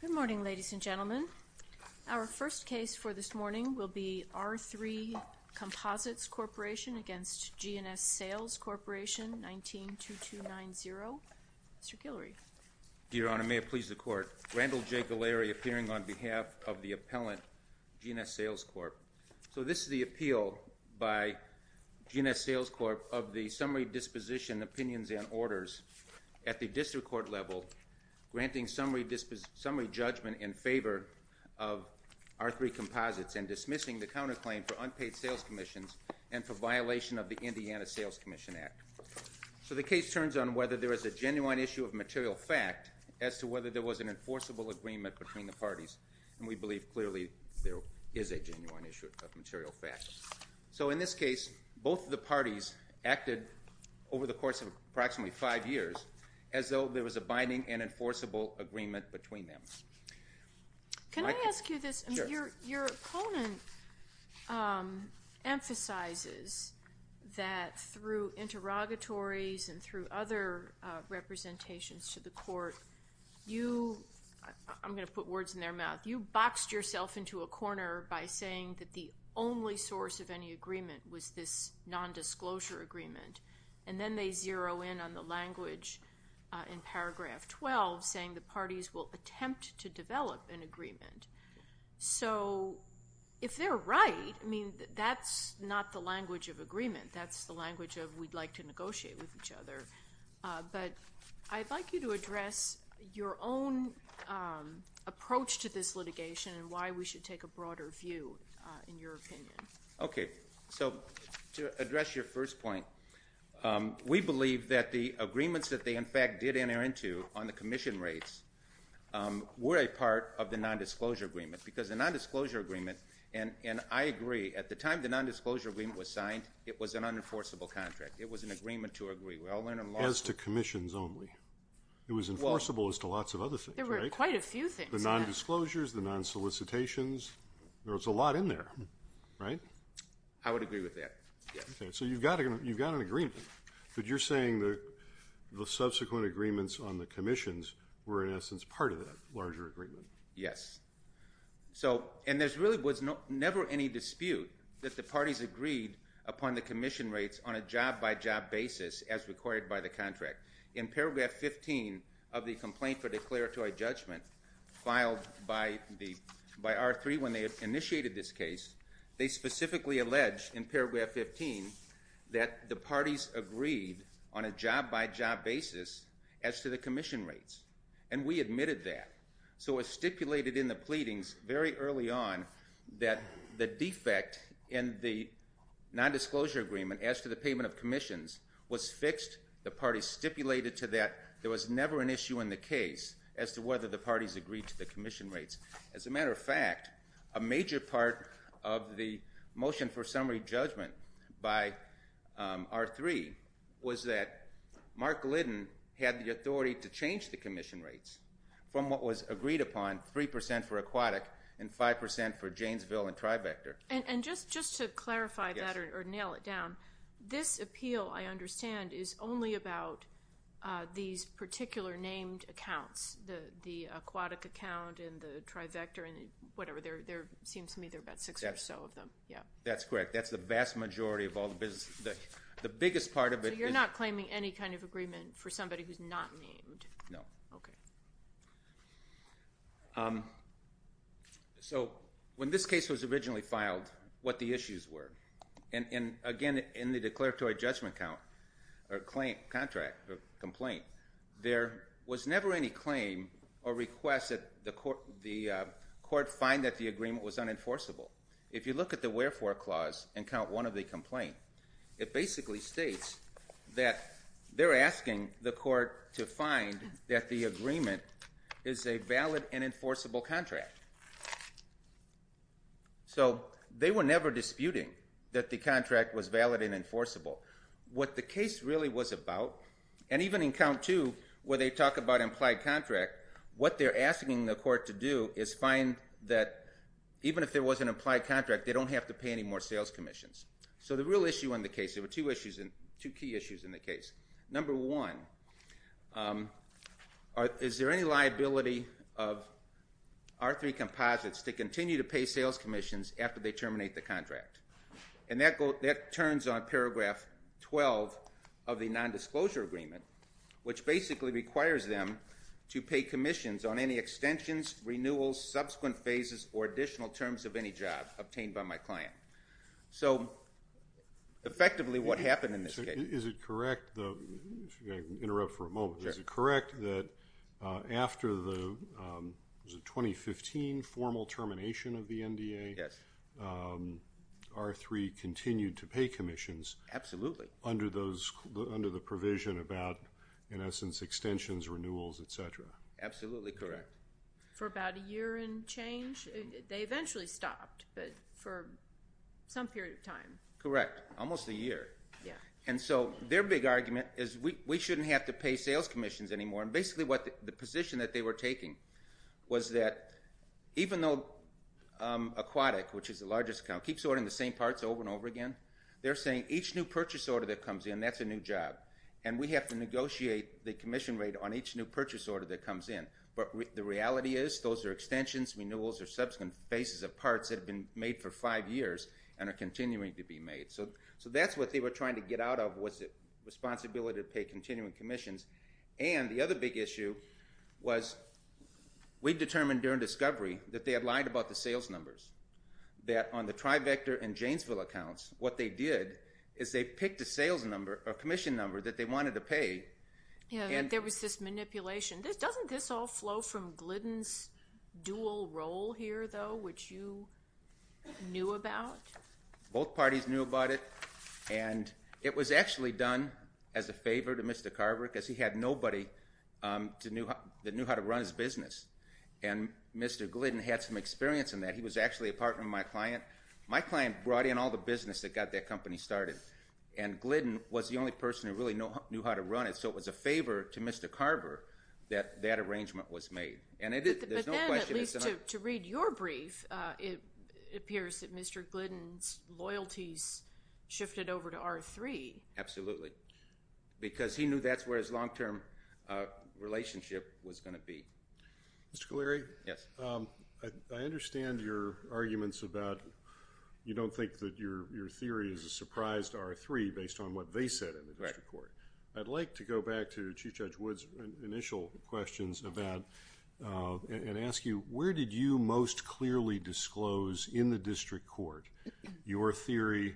Good morning, ladies and gentlemen. Our first case for this morning will be R3 Composites Corporation v. G&S Sales Corp. 19-2290. Mr. Guillory. Your Honor, may it please the Court. Randall J. Guillory appearing on behalf of the appellant, G&S Sales Corp. So this is the appeal by G&S Sales Corp. of the summary disposition opinions and orders at the district court level granting summary judgment in favor of R3 Composites and dismissing the counterclaim for unpaid sales commissions and for violation of the Indiana Sales Commission Act. So the case turns on whether there is a genuine issue of material fact as to whether there was an enforceable agreement between the parties. And we believe clearly there is a genuine issue of material fact. So in this case, both of the parties acted over the course of approximately five years as though there was a binding and enforceable agreement between them. Can I ask you this? Your opponent emphasizes that through interrogatories and through other representations to the court, I'm going to put words in their mouth. You boxed yourself into a corner by saying that the only source of any agreement was this nondisclosure agreement. And then they zero in on the language in paragraph 12 saying the parties will attempt to develop an agreement. So if they're right, I mean, that's not the language of agreement. That's the language of we'd like to negotiate with each other. But I'd like you to address your own approach to this litigation and why we should take a broader view in your opinion. Okay. So to address your first point, we believe that the agreements that they in fact did enter into on the commission rates were a part of the nondisclosure agreement because the nondisclosure agreement, and I agree, at the time the nondisclosure agreement was signed, it was an unenforceable contract. It was an agreement to agree well and in law. As to commissions only. It was enforceable as to lots of other things, right? There were quite a few things. The nondisclosures, the nonsolicitations, there was a lot in there, right? I would agree with that, yes. So you've got an agreement, but you're saying the subsequent agreements on the commissions were in essence part of that larger agreement. Yes. And there really was never any dispute that the parties agreed upon the commission rates on a job-by-job basis as required by the contract. In paragraph 15 of the complaint for declaratory judgment filed by R3 when they initiated this case, they specifically alleged in paragraph 15 that the parties agreed on a job-by-job basis as to the commission rates. And we admitted that. So it was stipulated in the pleadings very early on that the defect in the nondisclosure agreement as to the payment of commissions was fixed. The parties stipulated to that there was never an issue in the case as to whether the parties agreed to the commission rates. As a matter of fact, a major part of the motion for summary judgment by R3 was that Mark Liddon had the authority to change the commission rates from what was agreed upon, 3% for aquatic and 5% for Janesville and Trivector. And just to clarify that or nail it down, this appeal, I understand, is only about these particular named accounts, the aquatic account and the Trivector and whatever. There seems to me there are about six or so of them. That's correct. That's the vast majority of all the business. The biggest part of it is... So you're not claiming any kind of agreement for somebody who's not named? No. Okay. So when this case was originally filed, what the issues were. And, again, in the declaratory judgment count or complaint, there was never any claim or request that the court find that the agreement was unenforceable. If you look at the wherefore clause in count one of the complaint, it basically states that they're asking the court to find that the agreement is a valid and enforceable contract. So they were never disputing that the contract was valid and enforceable. What the case really was about, and even in count two where they talk about implied contract, what they're asking the court to do is find that even if there was an implied contract, they don't have to pay any more sales commissions. So the real issue in the case, there were two key issues in the case. Number one, is there any liability of R3 Composites to continue to pay sales commissions after they terminate the contract? And that turns on paragraph 12 of the nondisclosure agreement, which basically requires them to pay commissions on any extensions, renewals, subsequent phases, or additional terms of any job obtained by my client. So, effectively, what happened in this case? Is it correct that after the 2015 formal termination of the NDA, R3 continued to pay commissions? Absolutely. Under the provision about, in essence, extensions, renewals, et cetera. Absolutely correct. For about a year and change? They eventually stopped, but for some period of time. Correct. Almost a year. And so their big argument is we shouldn't have to pay sales commissions anymore. And basically the position that they were taking was that even though Aquatic, which is the largest account, keeps ordering the same parts over and over again, they're saying each new purchase order that comes in, that's a new job, and we have to negotiate the commission rate on each new purchase order that comes in. But the reality is those are extensions, renewals, or subsequent phases of parts that have been made for five years and are continuing to be made. So that's what they were trying to get out of was the responsibility to pay continuing commissions. And the other big issue was we determined during discovery that they had lied about the sales numbers. That on the Trivector and Janesville accounts, what they did is they picked a sales number, a commission number, that they wanted to pay. Yeah, there was this manipulation. Doesn't this all flow from Glidden's dual role here, though, which you knew about? Both parties knew about it. And it was actually done as a favor to Mr. Carver because he had nobody that knew how to run his business. And Mr. Glidden had some experience in that. He was actually a partner of my client. My client brought in all the business that got that company started. And Glidden was the only person who really knew how to run it. So it was a favor to Mr. Carver that that arrangement was made. But then, at least to read your brief, it appears that Mr. Glidden's loyalties shifted over to R3. Absolutely. Because he knew that's where his long-term relationship was going to be. Mr. Kaleri? Yes. I understand your arguments about you don't think that your theory is a surprise to R3 based on what they said in the district court. I'd like to go back to Chief Judge Wood's initial questions about and ask you, where did you most clearly disclose in the district court your theory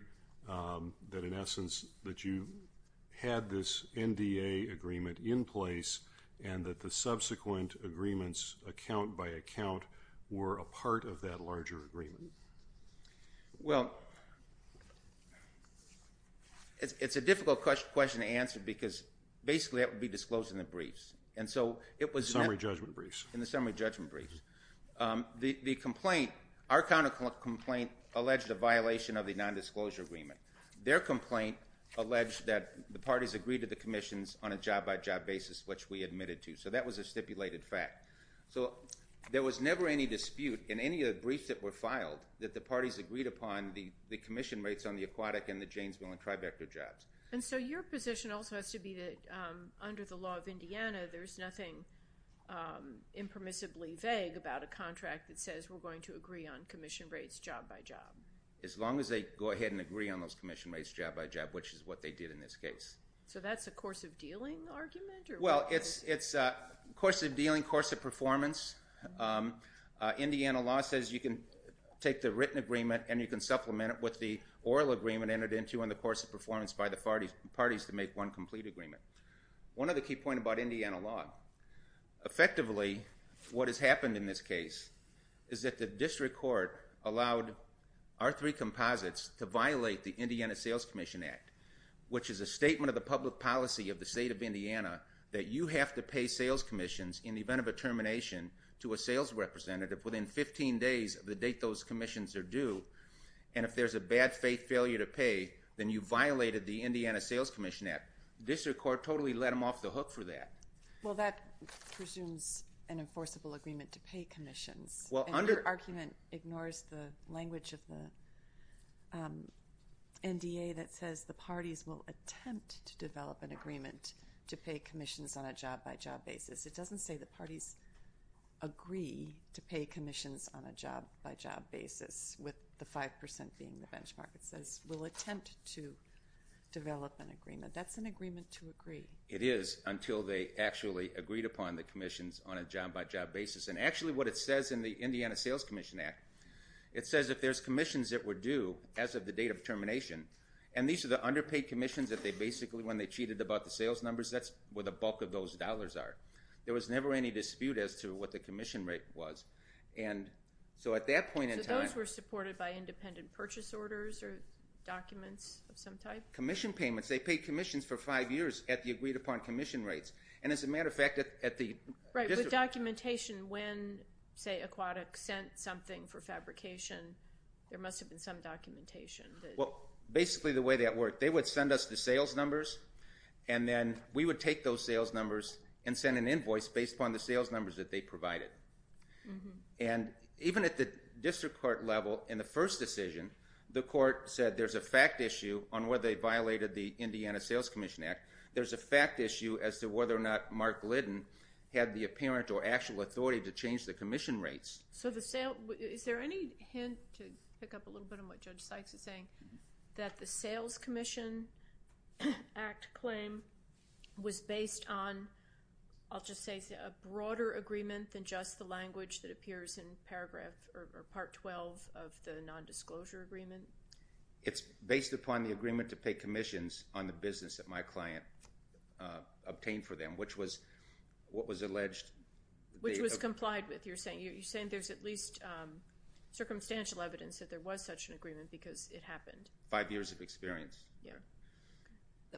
that, in essence, that you had this NDA agreement in place and that the subsequent agreements, account by account, were a part of that larger agreement? Well, it's a difficult question to answer because, basically, that would be disclosed in the briefs. In the summary judgment briefs. In the summary judgment briefs. Our counter complaint alleged a violation of the nondisclosure agreement. Their complaint alleged that the parties agreed to the commissions on a job-by-job basis, which we admitted to. So that was a stipulated fact. So there was never any dispute in any of the briefs that were filed that the parties agreed upon the commission rates on the aquatic and the Janesville and tri-vector jobs. And so your position also has to be that, under the law of Indiana, there's nothing impermissibly vague about a contract that says we're going to agree on commission rates job-by-job. As long as they go ahead and agree on those commission rates job-by-job, which is what they did in this case. So that's a course of dealing argument? Well, it's a course of dealing, course of performance. Indiana law says you can take the written agreement and you can supplement it with the oral agreement entered into in the course of performance by the parties to make one complete agreement. One other key point about Indiana law. Effectively, what has happened in this case is that the district court allowed our three composites to violate the Indiana Sales Commission Act, which is a statement of the public policy of the state of Indiana that you have to pay sales commissions in the event of a termination to a sales representative within 15 days of the date those commissions are due. And if there's a bad faith failure to pay, then you violated the Indiana Sales Commission Act. The district court totally let them off the hook for that. Well, that presumes an enforceable agreement to pay commissions. Your argument ignores the language of the NDA that says the parties will attempt to develop an agreement to pay commissions on a job-by-job basis. It doesn't say the parties agree to pay commissions on a job-by-job basis, with the 5% being the benchmark. It says we'll attempt to develop an agreement. That's an agreement to agree. It is until they actually agreed upon the commissions on a job-by-job basis. And actually what it says in the Indiana Sales Commission Act, it says if there's commissions that were due as of the date of termination, and these are the underpaid commissions that they basically, when they cheated about the sales numbers, that's where the bulk of those dollars are. There was never any dispute as to what the commission rate was. And so at that point in time. So those were supported by independent purchase orders or documents of some type? Commission payments. They paid commissions for five years at the agreed-upon commission rates. And as a matter of fact, at the district. The documentation when, say, Aquatic sent something for fabrication, there must have been some documentation. Well, basically the way that worked, they would send us the sales numbers, and then we would take those sales numbers and send an invoice based upon the sales numbers that they provided. And even at the district court level, in the first decision, the court said there's a fact issue on whether they violated the Indiana Sales Commission Act. There's a fact issue as to whether or not Mark Liddon had the apparent or actual authority to change the commission rates. So is there any hint, to pick up a little bit on what Judge Sykes is saying, that the Sales Commission Act claim was based on, I'll just say, a broader agreement than just the language that appears in paragraph or Part 12 of the nondisclosure agreement? It's based upon the agreement to pay commissions on the business that my client obtained for them, which was what was alleged. Which was complied with, you're saying. You're saying there's at least circumstantial evidence that there was such an agreement because it happened. Five years of experience.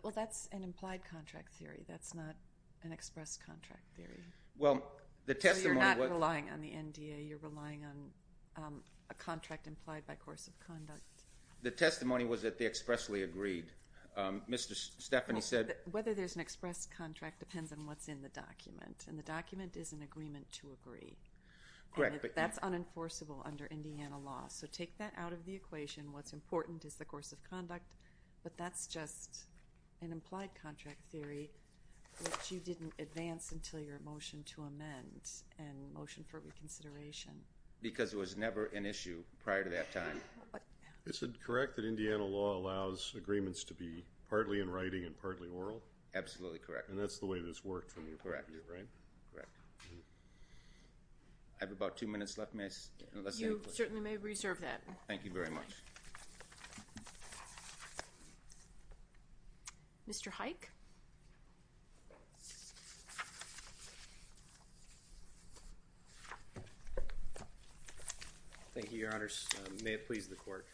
Well, that's an implied contract theory. That's not an express contract theory. So you're not relying on the NDA. You're relying on a contract implied by course of conduct. The testimony was that they expressly agreed. Mr. Stephanie said. Whether there's an express contract depends on what's in the document. And the document is an agreement to agree. That's unenforceable under Indiana law. So take that out of the equation. What's important is the course of conduct. But that's just an implied contract theory, which you didn't advance until your motion to amend and motion for reconsideration. Because it was never an issue prior to that time. Is it correct that Indiana law allows agreements to be partly in writing and partly oral? Absolutely correct. And that's the way this worked from your point of view, right? I have about two minutes left, ma'am. You certainly may reserve that. Mr. Hike. Thank you, Your Honors. May it please the Court.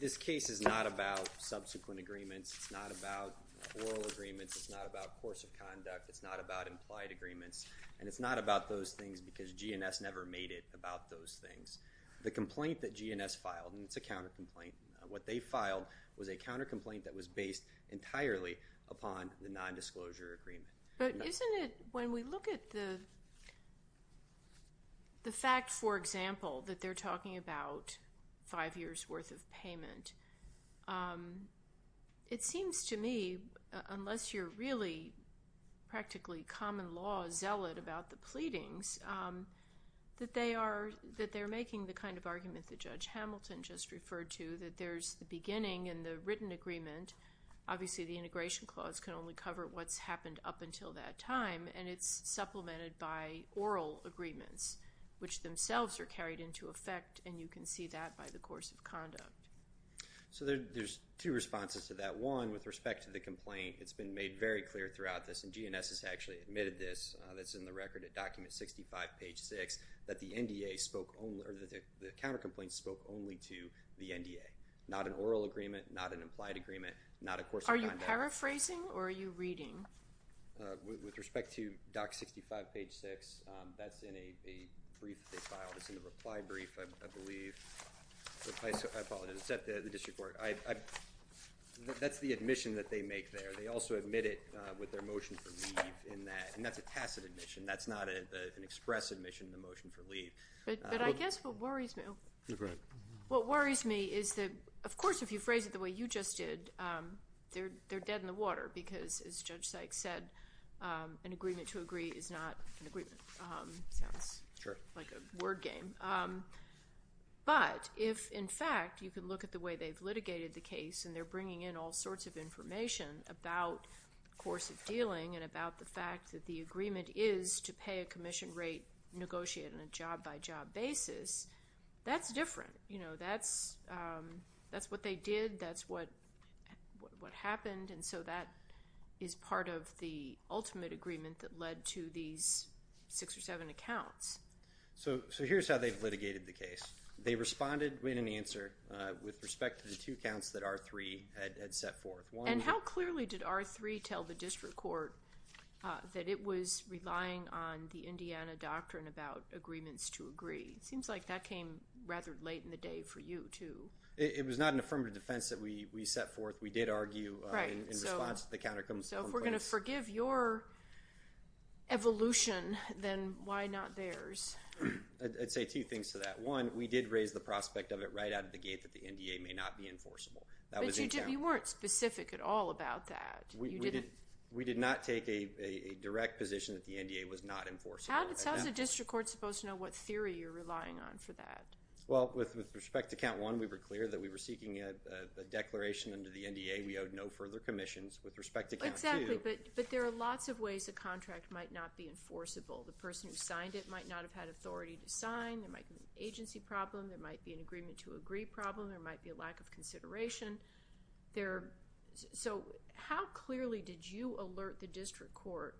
This case is not about subsequent agreements. It's not about oral agreements. It's not about course of conduct. It's not about implied agreements. And it's not about those things because GNS never made it about those things. The complaint that GNS filed, and it's a counter-complaint, what they filed was a counter-complaint that was based entirely upon the nondisclosure agreement. But isn't it when we look at the fact, for example, that they're talking about five years' worth of payment, it seems to me, unless you're really practically common law, zealot about the pleadings, that they are making the kind of argument that Judge Hamilton just referred to, that there's the beginning and the written agreement. Obviously the integration clause can only cover what's happened up until that time. And it's supplemented by oral agreements, which themselves are carried into effect, and you can see that by the course of conduct. So there's two responses to that. One, with respect to the complaint, it's been made very clear throughout this, and GNS has actually admitted this, that's in the record at document 65, page 6, that the NDA spoke only, or the counter-complaint spoke only to the NDA, not an oral agreement, not an implied agreement, not a course of conduct. Are you paraphrasing or are you reading? With respect to doc 65, page 6, that's in a brief that they filed. It's in the reply brief, I believe. I apologize. It's at the district court. That's the admission that they make there. They also admit it with their motion for leave in that, and that's a tacit admission. That's not an express admission in the motion for leave. But I guess what worries me is that, of course, if you phrase it the way you just did, they're dead in the water because, as Judge Sykes said, an agreement to agree is not an agreement. Sounds like a word game. But if, in fact, you can look at the way they've litigated the case and they're bringing in all sorts of information about the course of dealing and about the fact that the agreement is to pay a commission rate, negotiate on a job-by-job basis, that's different. That's what they did. That's what happened. And so that is part of the ultimate agreement that led to these six or seven accounts. So here's how they've litigated the case. They responded in an answer with respect to the two counts that R3 had set forth. And how clearly did R3 tell the district court that it was relying on the Indiana doctrine about agreements to agree? It seems like that came rather late in the day for you, too. It was not an affirmative defense that we set forth. We did argue in response to the counterclaims. So if we're going to forgive your evolution, then why not theirs? I'd say two things to that. One, we did raise the prospect of it right out of the gate that the NDA may not be enforceable. But you weren't specific at all about that. We did not take a direct position that the NDA was not enforceable. How is a district court supposed to know what theory you're relying on for that? Well, with respect to count one, we were clear that we were seeking a declaration under the NDA we owed no further commissions. With respect to count two. Exactly. But there are lots of ways a contract might not be enforceable. The person who signed it might not have had authority to sign. There might be an agency problem. There might be an agreement to agree problem. There might be a lack of consideration. So how clearly did you alert the district court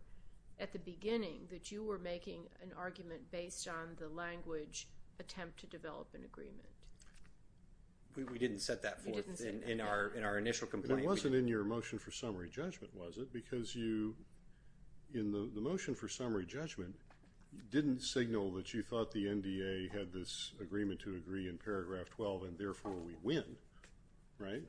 at the beginning that you were making an argument based on the language attempt to develop an agreement? We didn't set that forth in our initial complaint. It wasn't in your motion for summary judgment, was it? Because you, in the motion for summary judgment, didn't signal that you thought the NDA had this agreement to agree in paragraph 12 and therefore we win, right?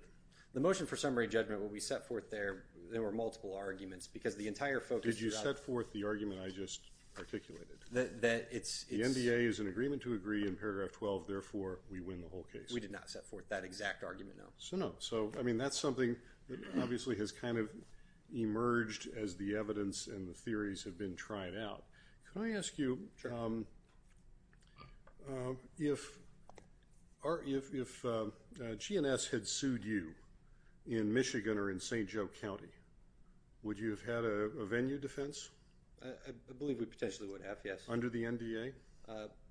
The motion for summary judgment, when we set forth there, there were multiple arguments because the entire focus. Did you set forth the argument I just articulated? The NDA is in agreement to agree in paragraph 12, therefore we win the whole case. We did not set forth that exact argument, no. So, no. So, I mean, that's something that obviously has kind of emerged as the evidence and the theories have been tried out. Can I ask you if GNS had sued you in Michigan or in St. Joe County, would you have had a venue defense? I believe we potentially would have, yes. Under the NDA?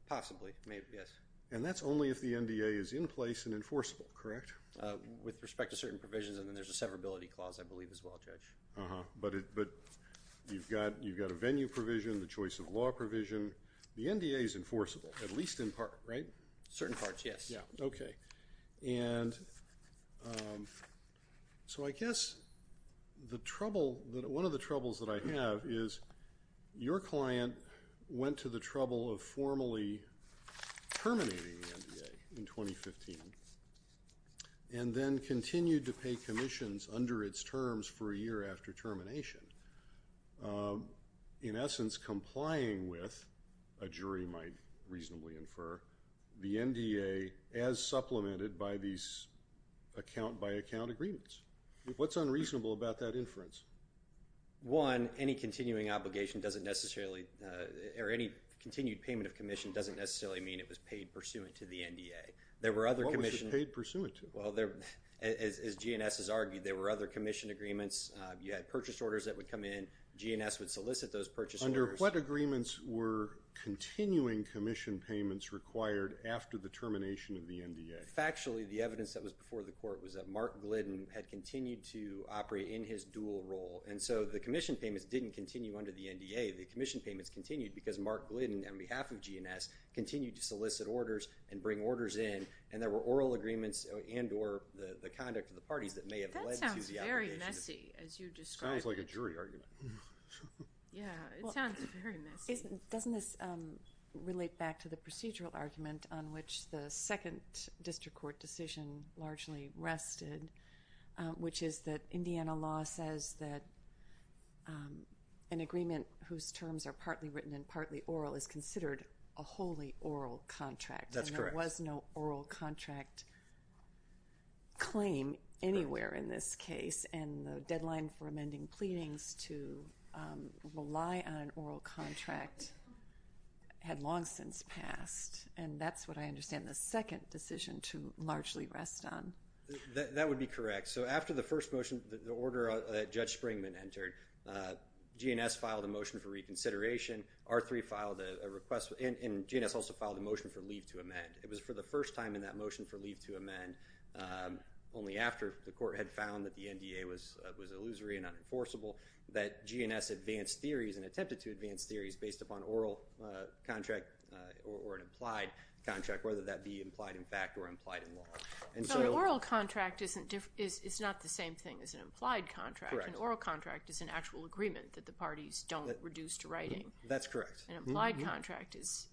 Possibly, maybe, yes. And that's only if the NDA is in place and enforceable, correct? With respect to certain provisions, and then there's a severability clause, I believe, as well, Judge. But you've got a venue provision, the choice of law provision. The NDA is enforceable, at least in part, right? Certain parts, yes. Yeah, okay. And so I guess the trouble, one of the troubles that I have is your client went to the trouble of formally terminating the NDA in 2015, and then continued to pay commissions under its terms for a year after termination. In essence, complying with, a jury might reasonably infer, the NDA as supplemented by these account-by-account agreements. What's unreasonable about that inference? One, any continuing obligation doesn't necessarily, or any continued payment of commission doesn't necessarily mean it was paid pursuant to the NDA. What was it paid pursuant to? Well, as GNS has argued, there were other commission agreements. You had purchase orders that would come in. GNS would solicit those purchase orders. Under what agreements were continuing commission payments required after the termination of the NDA? Factually, the evidence that was before the court was that Mark Glidden had continued to operate in his dual role, and so the commission payments didn't continue under the NDA. The commission payments continued because Mark Glidden, on behalf of GNS, continued to solicit orders and bring orders in, and there were oral agreements and or the conduct of the parties that may have led to the obligation. That sounds very messy, as you describe it. Sounds like a jury argument. Yeah, it sounds very messy. Doesn't this relate back to the procedural argument on which the second district court decision largely rested, which is that Indiana law says that an agreement whose terms are partly written and partly oral is considered a wholly oral contract. That's correct. And there was no oral contract claim anywhere in this case, and the deadline for amending pleadings to rely on an oral contract had long since passed, and that's what I understand the second decision to largely rest on. That would be correct. So after the first motion, the order that Judge Springman entered, GNS filed a motion for reconsideration, R3 filed a request, and GNS also filed a motion for leave to amend. It was for the first time in that motion for leave to amend, only after the court had found that the NDA was illusory and unenforceable, that GNS advanced theories and attempted to advance theories based upon oral contract or an implied contract, whether that be implied in fact or implied in law. So an oral contract is not the same thing as an implied contract. Correct. An oral contract is an actual agreement that the parties don't reduce to writing. That's correct. An implied contract is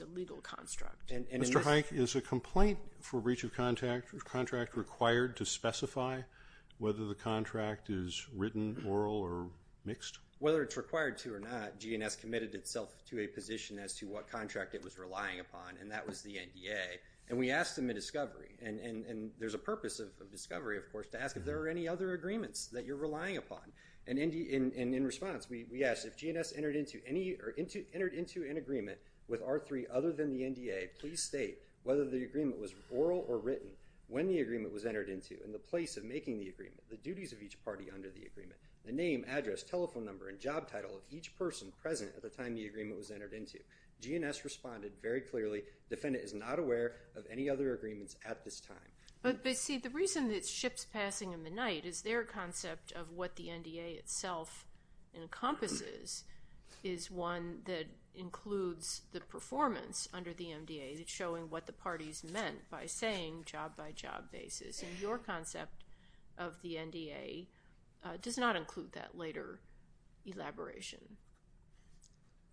a legal construct. Mr. Hike, is a complaint for breach of contract required to specify whether the contract is written, oral, or mixed? Whether it's required to or not, GNS committed itself to a position as to what contract it was relying upon, and that was the NDA. And we asked them in discovery, and there's a purpose of discovery, of course, to ask if there are any other agreements that you're relying upon. And in response, we asked if GNS entered into any or entered into an agreement with R3 other than the NDA, please state whether the agreement was oral or written, when the agreement was entered into, and the place of making the agreement, the duties of each party under the agreement, the name, address, telephone number, and job title of each person present at the time the agreement was entered into. GNS responded very clearly, defendant is not aware of any other agreements at this time. But see, the reason that ship's passing in the night is their concept of what the NDA itself encompasses, is one that includes the performance under the NDA. It's showing what the parties meant by saying job by job basis. And your concept of the NDA does not include that later elaboration.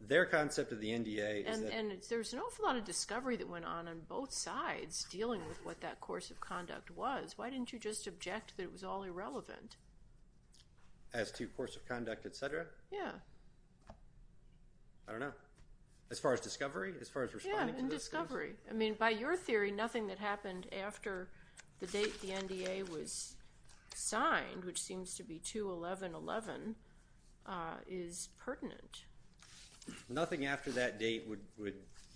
Their concept of the NDA is that. And there's an awful lot of discovery that went on on both sides dealing with what that course of conduct was. Why didn't you just object that it was all irrelevant? As to course of conduct, et cetera? Yeah. I don't know. As far as discovery? Yeah, in discovery. I mean, by your theory, nothing that happened after the date the NDA was signed, which seems to be 2-11-11, is pertinent. Nothing after that date would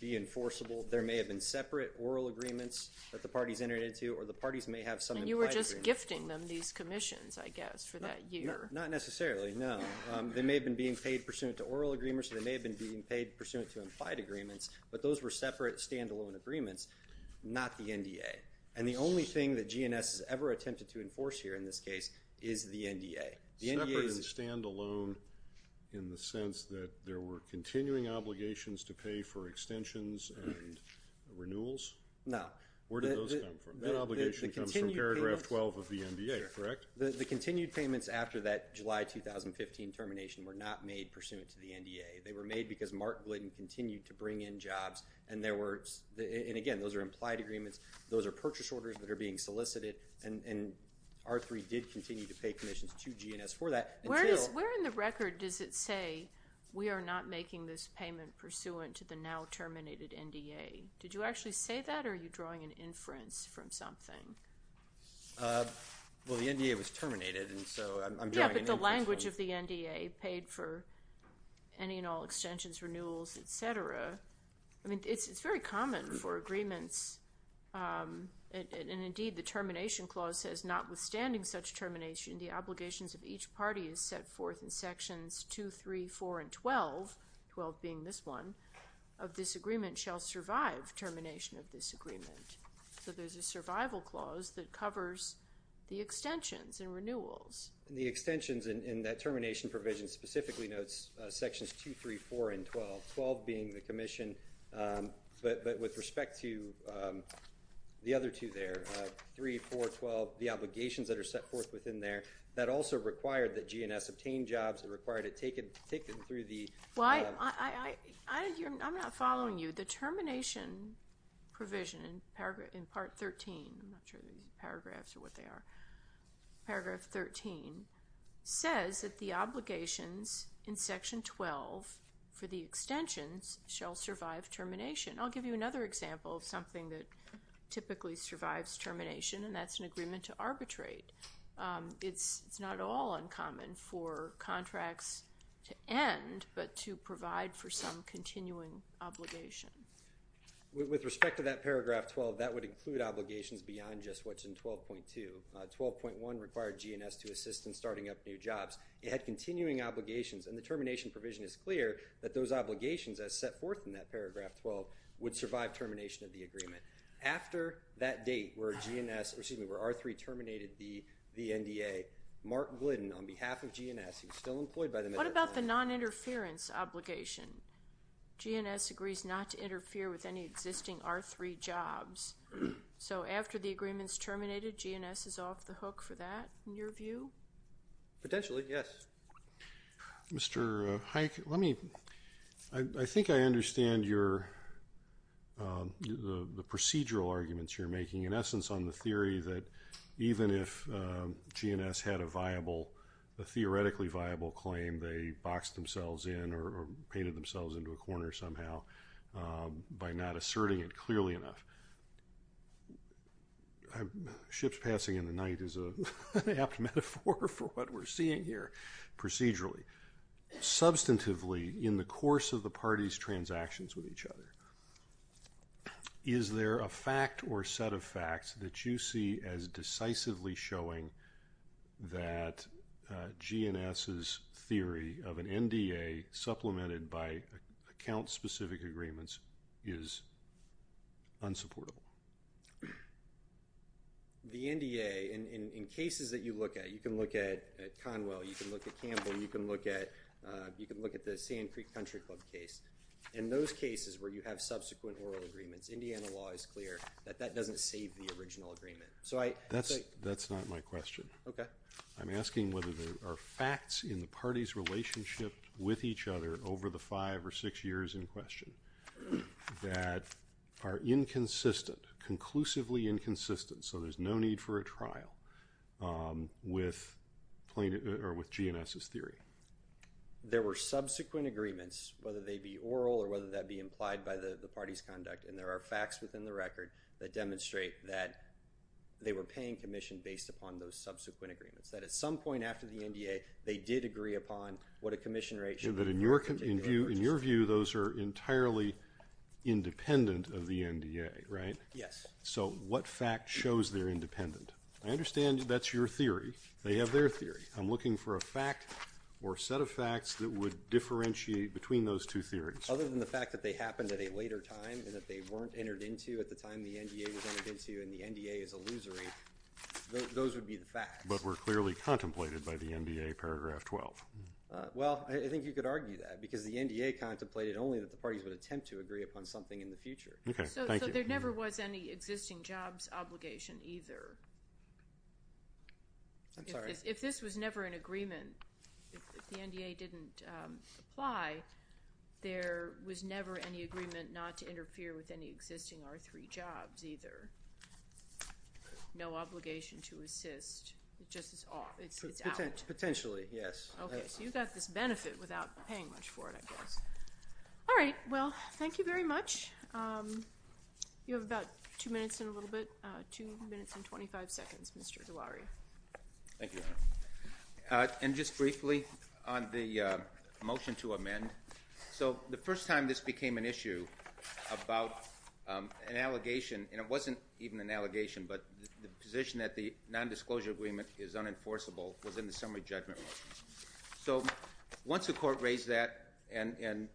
be enforceable. There may have been separate oral agreements that the parties entered into, or the parties may have some implied agreements. And you were just gifting them these commissions, I guess, for that year. Not necessarily, no. They may have been being paid pursuant to oral agreements, or they may have been being paid pursuant to implied agreements, but those were separate, standalone agreements, not the NDA. And the only thing that GNS has ever attempted to enforce here in this case is the NDA. Separate and standalone in the sense that there were continuing obligations to pay for extensions and renewals? No. Where do those come from? That obligation comes from paragraph 12 of the NDA, correct? The continued payments after that July 2015 termination were not made pursuant to the NDA. They were made because Mark Blanton continued to bring in jobs, and again, those are implied agreements, those are purchase orders that are being solicited, and R3 did continue to pay commissions to GNS for that. Where in the record does it say, we are not making this payment pursuant to the now terminated NDA? Did you actually say that, or are you drawing an inference from something? Well, the NDA was terminated, and so I'm drawing an inference from it. Yeah, but the language of the NDA, paid for any and all extensions, renewals, et cetera, I mean, it's very common for agreements, and indeed the termination clause says, notwithstanding such termination, the obligations of each party is set forth in sections 2, 3, 4, and 12, 12 being this one, of this agreement shall survive termination of this agreement. So there's a survival clause that covers the extensions and renewals. And the extensions in that termination provision specifically notes sections 2, 3, 4, and 12, 12 being the commission, but with respect to the other two there, 3, 4, 12, the obligations that are set forth within there, that also required that GNS obtain jobs, it required it taken through the- Well, I'm not following you. The termination provision in part 13, I'm not sure these paragraphs are what they are, paragraph 13, says that the obligations in section 12 for the extensions shall survive termination. I'll give you another example of something that typically survives termination, and that's an agreement to arbitrate. It's not at all uncommon for contracts to end, but to provide for some continuing obligation. With respect to that paragraph 12, that would include obligations beyond just what's in 12.2. 12.1 required GNS to assist in starting up new jobs. It had continuing obligations, and the termination provision is clear that those obligations, as set forth in that paragraph 12, would survive termination of the agreement. After that date where R3 terminated the NDA, Mark Glidden, on behalf of GNS, What about the noninterference obligation? GNS agrees not to interfere with any existing R3 jobs. So after the agreement's terminated, GNS is off the hook for that, in your view? Potentially, yes. Mr. Hike, let me- I think I understand the procedural arguments you're making, in essence on the theory that even if GNS had a viable, a theoretically viable claim, they boxed themselves in or painted themselves into a corner somehow by not asserting it clearly enough. Ships passing in the night is an apt metaphor for what we're seeing here procedurally. Substantively, in the course of the parties' transactions with each other, is there a fact or set of facts that you see as decisively showing that GNS's theory of an NDA supplemented by account-specific agreements is unsupportable? The NDA, in cases that you look at, you can look at Conwell, you can look at Campbell, you can look at the Sand Creek Country Club case. In those cases where you have subsequent oral agreements, Indiana law is clear that that doesn't save the original agreement. That's not my question. Okay. I'm asking whether there are facts in the party's relationship with each other over the five or six years in question that are inconsistent, conclusively inconsistent, so there's no need for a trial with GNS's theory. There were subsequent agreements, whether they be oral or whether that be implied by the party's conduct, and there are facts within the record that demonstrate that they were paying commission based upon those subsequent agreements, that at some point after the NDA, they did agree upon what a commission rate should be. But in your view, those are entirely independent of the NDA, right? Yes. So what fact shows they're independent? I understand that's your theory. They have their theory. I'm looking for a fact or set of facts that would differentiate between those two theories. Other than the fact that they happened at a later time and that they weren't entered into at the time the NDA was entered into and the NDA is illusory, those would be the facts. But were clearly contemplated by the NDA, Paragraph 12. Well, I think you could argue that because the NDA contemplated only that the parties would attempt to agree upon something in the future. Okay. Thank you. So there never was any existing jobs obligation either. If this was never an agreement, if the NDA didn't apply, there was never any agreement not to interfere with any existing R3 jobs either. No obligation to assist. It just is off. It's out. Potentially, yes. Okay. So you got this benefit without paying much for it, I guess. All right. Well, thank you very much. You have about two minutes and a little bit. Two minutes and 25 seconds, Mr. Duari. Thank you, Your Honor. And just briefly on the motion to amend. So the first time this became an issue about an allegation, and it wasn't even an allegation, but the position that the nondisclosure agreement is unenforceable was in the summary judgment. So once the court raised that and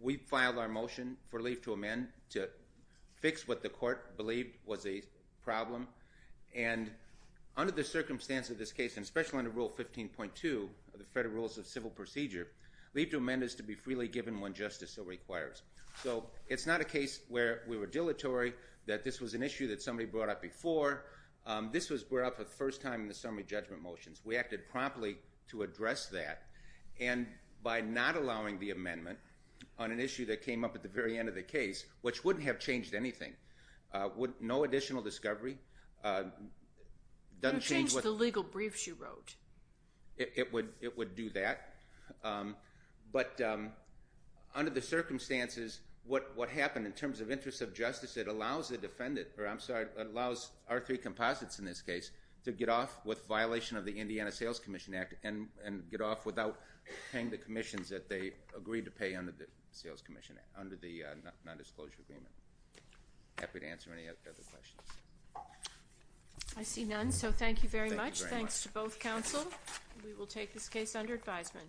we filed our motion for leave to amend to fix what the court believed was a problem, and under the circumstance of this case, and especially under Rule 15.2 of the Federal Rules of Civil Procedure, leave to amend is to be freely given when justice so requires. So it's not a case where we were dilatory, that this was an issue that somebody brought up before. This was brought up the first time in the summary judgment motions. We acted promptly to address that. And by not allowing the amendment on an issue that came up at the very end of the case, which wouldn't have changed anything, no additional discovery. It wouldn't change the legal briefs you wrote. It would do that. But under the circumstances, what happened in terms of interest of justice, it allows the defendant, or I'm sorry, it allows our three composites in this case to get off with violation of the Indiana Sales Commission Act and get off without paying the commissions that they agreed to pay under the nondisclosure agreement. Happy to answer any other questions. I see none, so thank you very much. Thanks to both counsel. We will take this case under advisement.